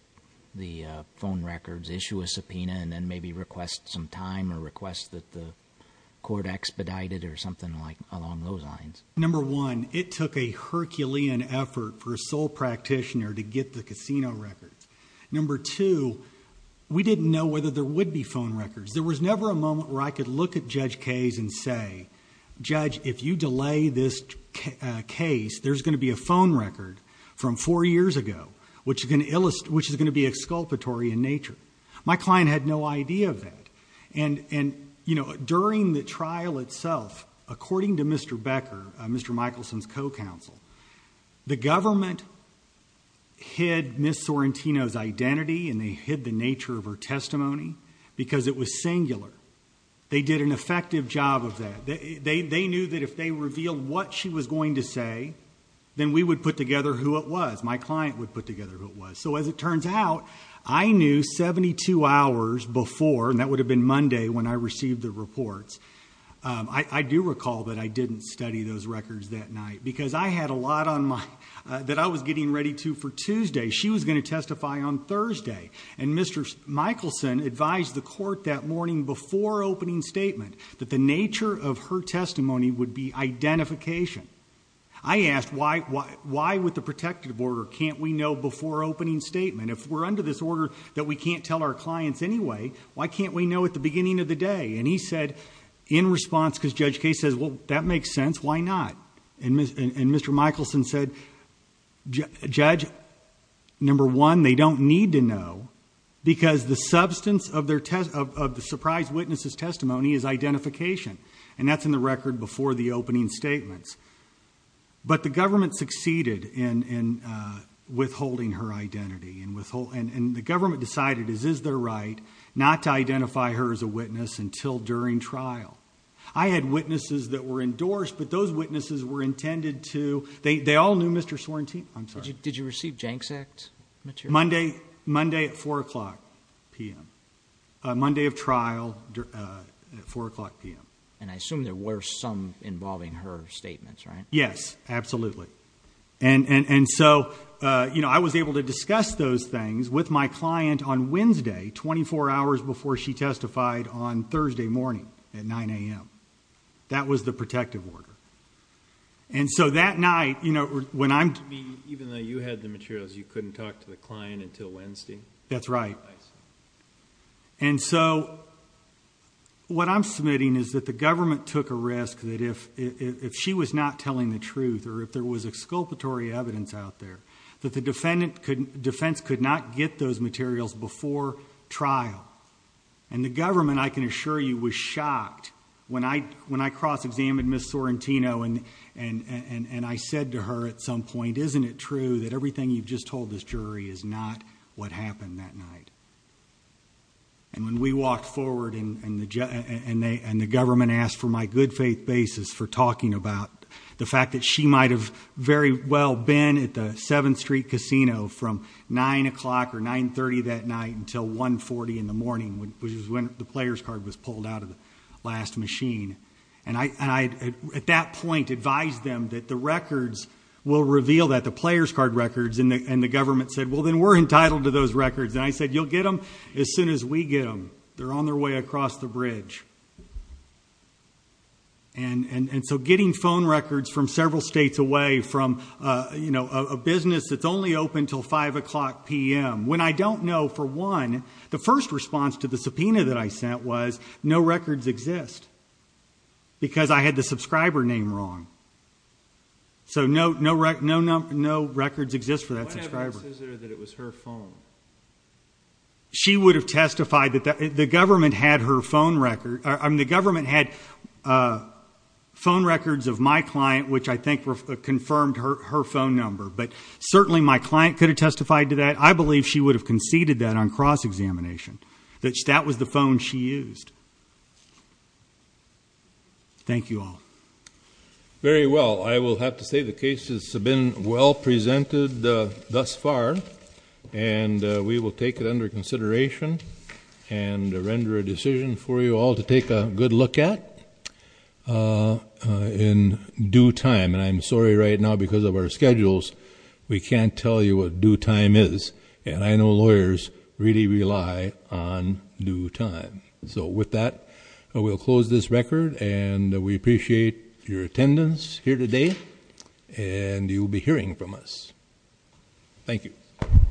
the phone records, issue a subpoena, and then maybe request some time or request that the court expedited or something along those lines? Number one, it took a Herculean effort for a sole practitioner to get the casino records. Number two, we didn't know whether there would be phone records. There was never a moment where I could look at Judge Case and say, Judge, if you delay this case, there's going to be a phone record from four years ago, which is going to be exculpatory in nature. My client had no idea of that. During the trial itself, according to Mr. Becker, Mr. Michelson's co-counsel, the government hid Ms. Sorrentino's identity and they hid the nature of her testimony because it was singular. They did an effective job of that. They knew that if they revealed what she was going to say, then we would put together who it was. My client would put together who it was. So as it turns out, I knew 72 hours before, and that would have been Monday when I received the reports, I do recall that I didn't study those records that night because I had a lot on my... that I was getting ready to for Tuesday. She was going to testify on Thursday. And Mr. Michelson advised the court that morning before opening statement that the nature of her testimony would be identification. I asked, why with the protective order can't we know before opening statement? If we're under this order that we can't tell our clients anyway, why can't we know at the beginning of the day? And he said, in response, because Judge Case says, well, that makes sense, why not? And Mr. Michelson said, Judge, number one, they don't need to know because the substance of the surprise witness's testimony is identification. And that's in the record before the opening statements. But the government succeeded in withholding her identity. And the government decided it is their right not to identify her as a witness until during trial. I had witnesses that were endorsed, but those witnesses were intended to... they all knew Mr. Sorrentino. I'm sorry. Did you receive JANKS Act material? Monday at 4 o'clock p.m. Monday of trial at 4 o'clock p.m. And I assume there were some involving her statements, right? Yes, absolutely. And so I was able to discuss those things with my client on Wednesday, 24 hours before she testified on Thursday morning at 9 a.m. That was the protective order. And so that night, when I'm... Even though you had the materials, you couldn't talk to the client until Wednesday? That's right. And so what I'm submitting is that the government took a risk that if she was not telling the truth or if there was exculpatory evidence out there, that the defense could not get those materials before trial. And the government, I can assure you, was shocked when I cross-examined Ms. Sorrentino and I said to her at some point, isn't it true that everything you've just told this jury is not what happened that night? And when we walked forward and the government asked for my good faith basis for talking about the fact that she might have very well been at the 7th Street Casino from 9 o'clock or 9.30 that night until 1.40 in the morning, which is when the player's card was pulled out of the last machine. And I, at that point, advised them that the records will reveal that, the player's card records, and the government said, well, then we're entitled to those records. And I said, you'll get them as soon as we get them. They're on their way across the bridge. And so getting phone records from several states away from, you know, a business that's only open until 5 o'clock p.m. When I don't know for one, the first response to the subpoena that I sent was, no records exist because I had the subscriber name wrong. So no records exist for that subscriber. What evidence is there that it was her phone? She would have testified that the government had her phone record. I mean, the government had phone records of my client, which I think confirmed her phone number. But certainly my client could have testified to that. I believe she would have conceded that on cross-examination, that that was the phone she used. Thank you all. Very well. I will have to say the cases have been well presented thus far, and we will take it under consideration and render a decision for you all to take a good look at in due time. And I'm sorry right now because of our schedules, we can't tell you what due time is. And I know lawyers really rely on due time. So with that, we'll close this record. And we appreciate your attendance here today, and you'll be hearing from us. Thank you.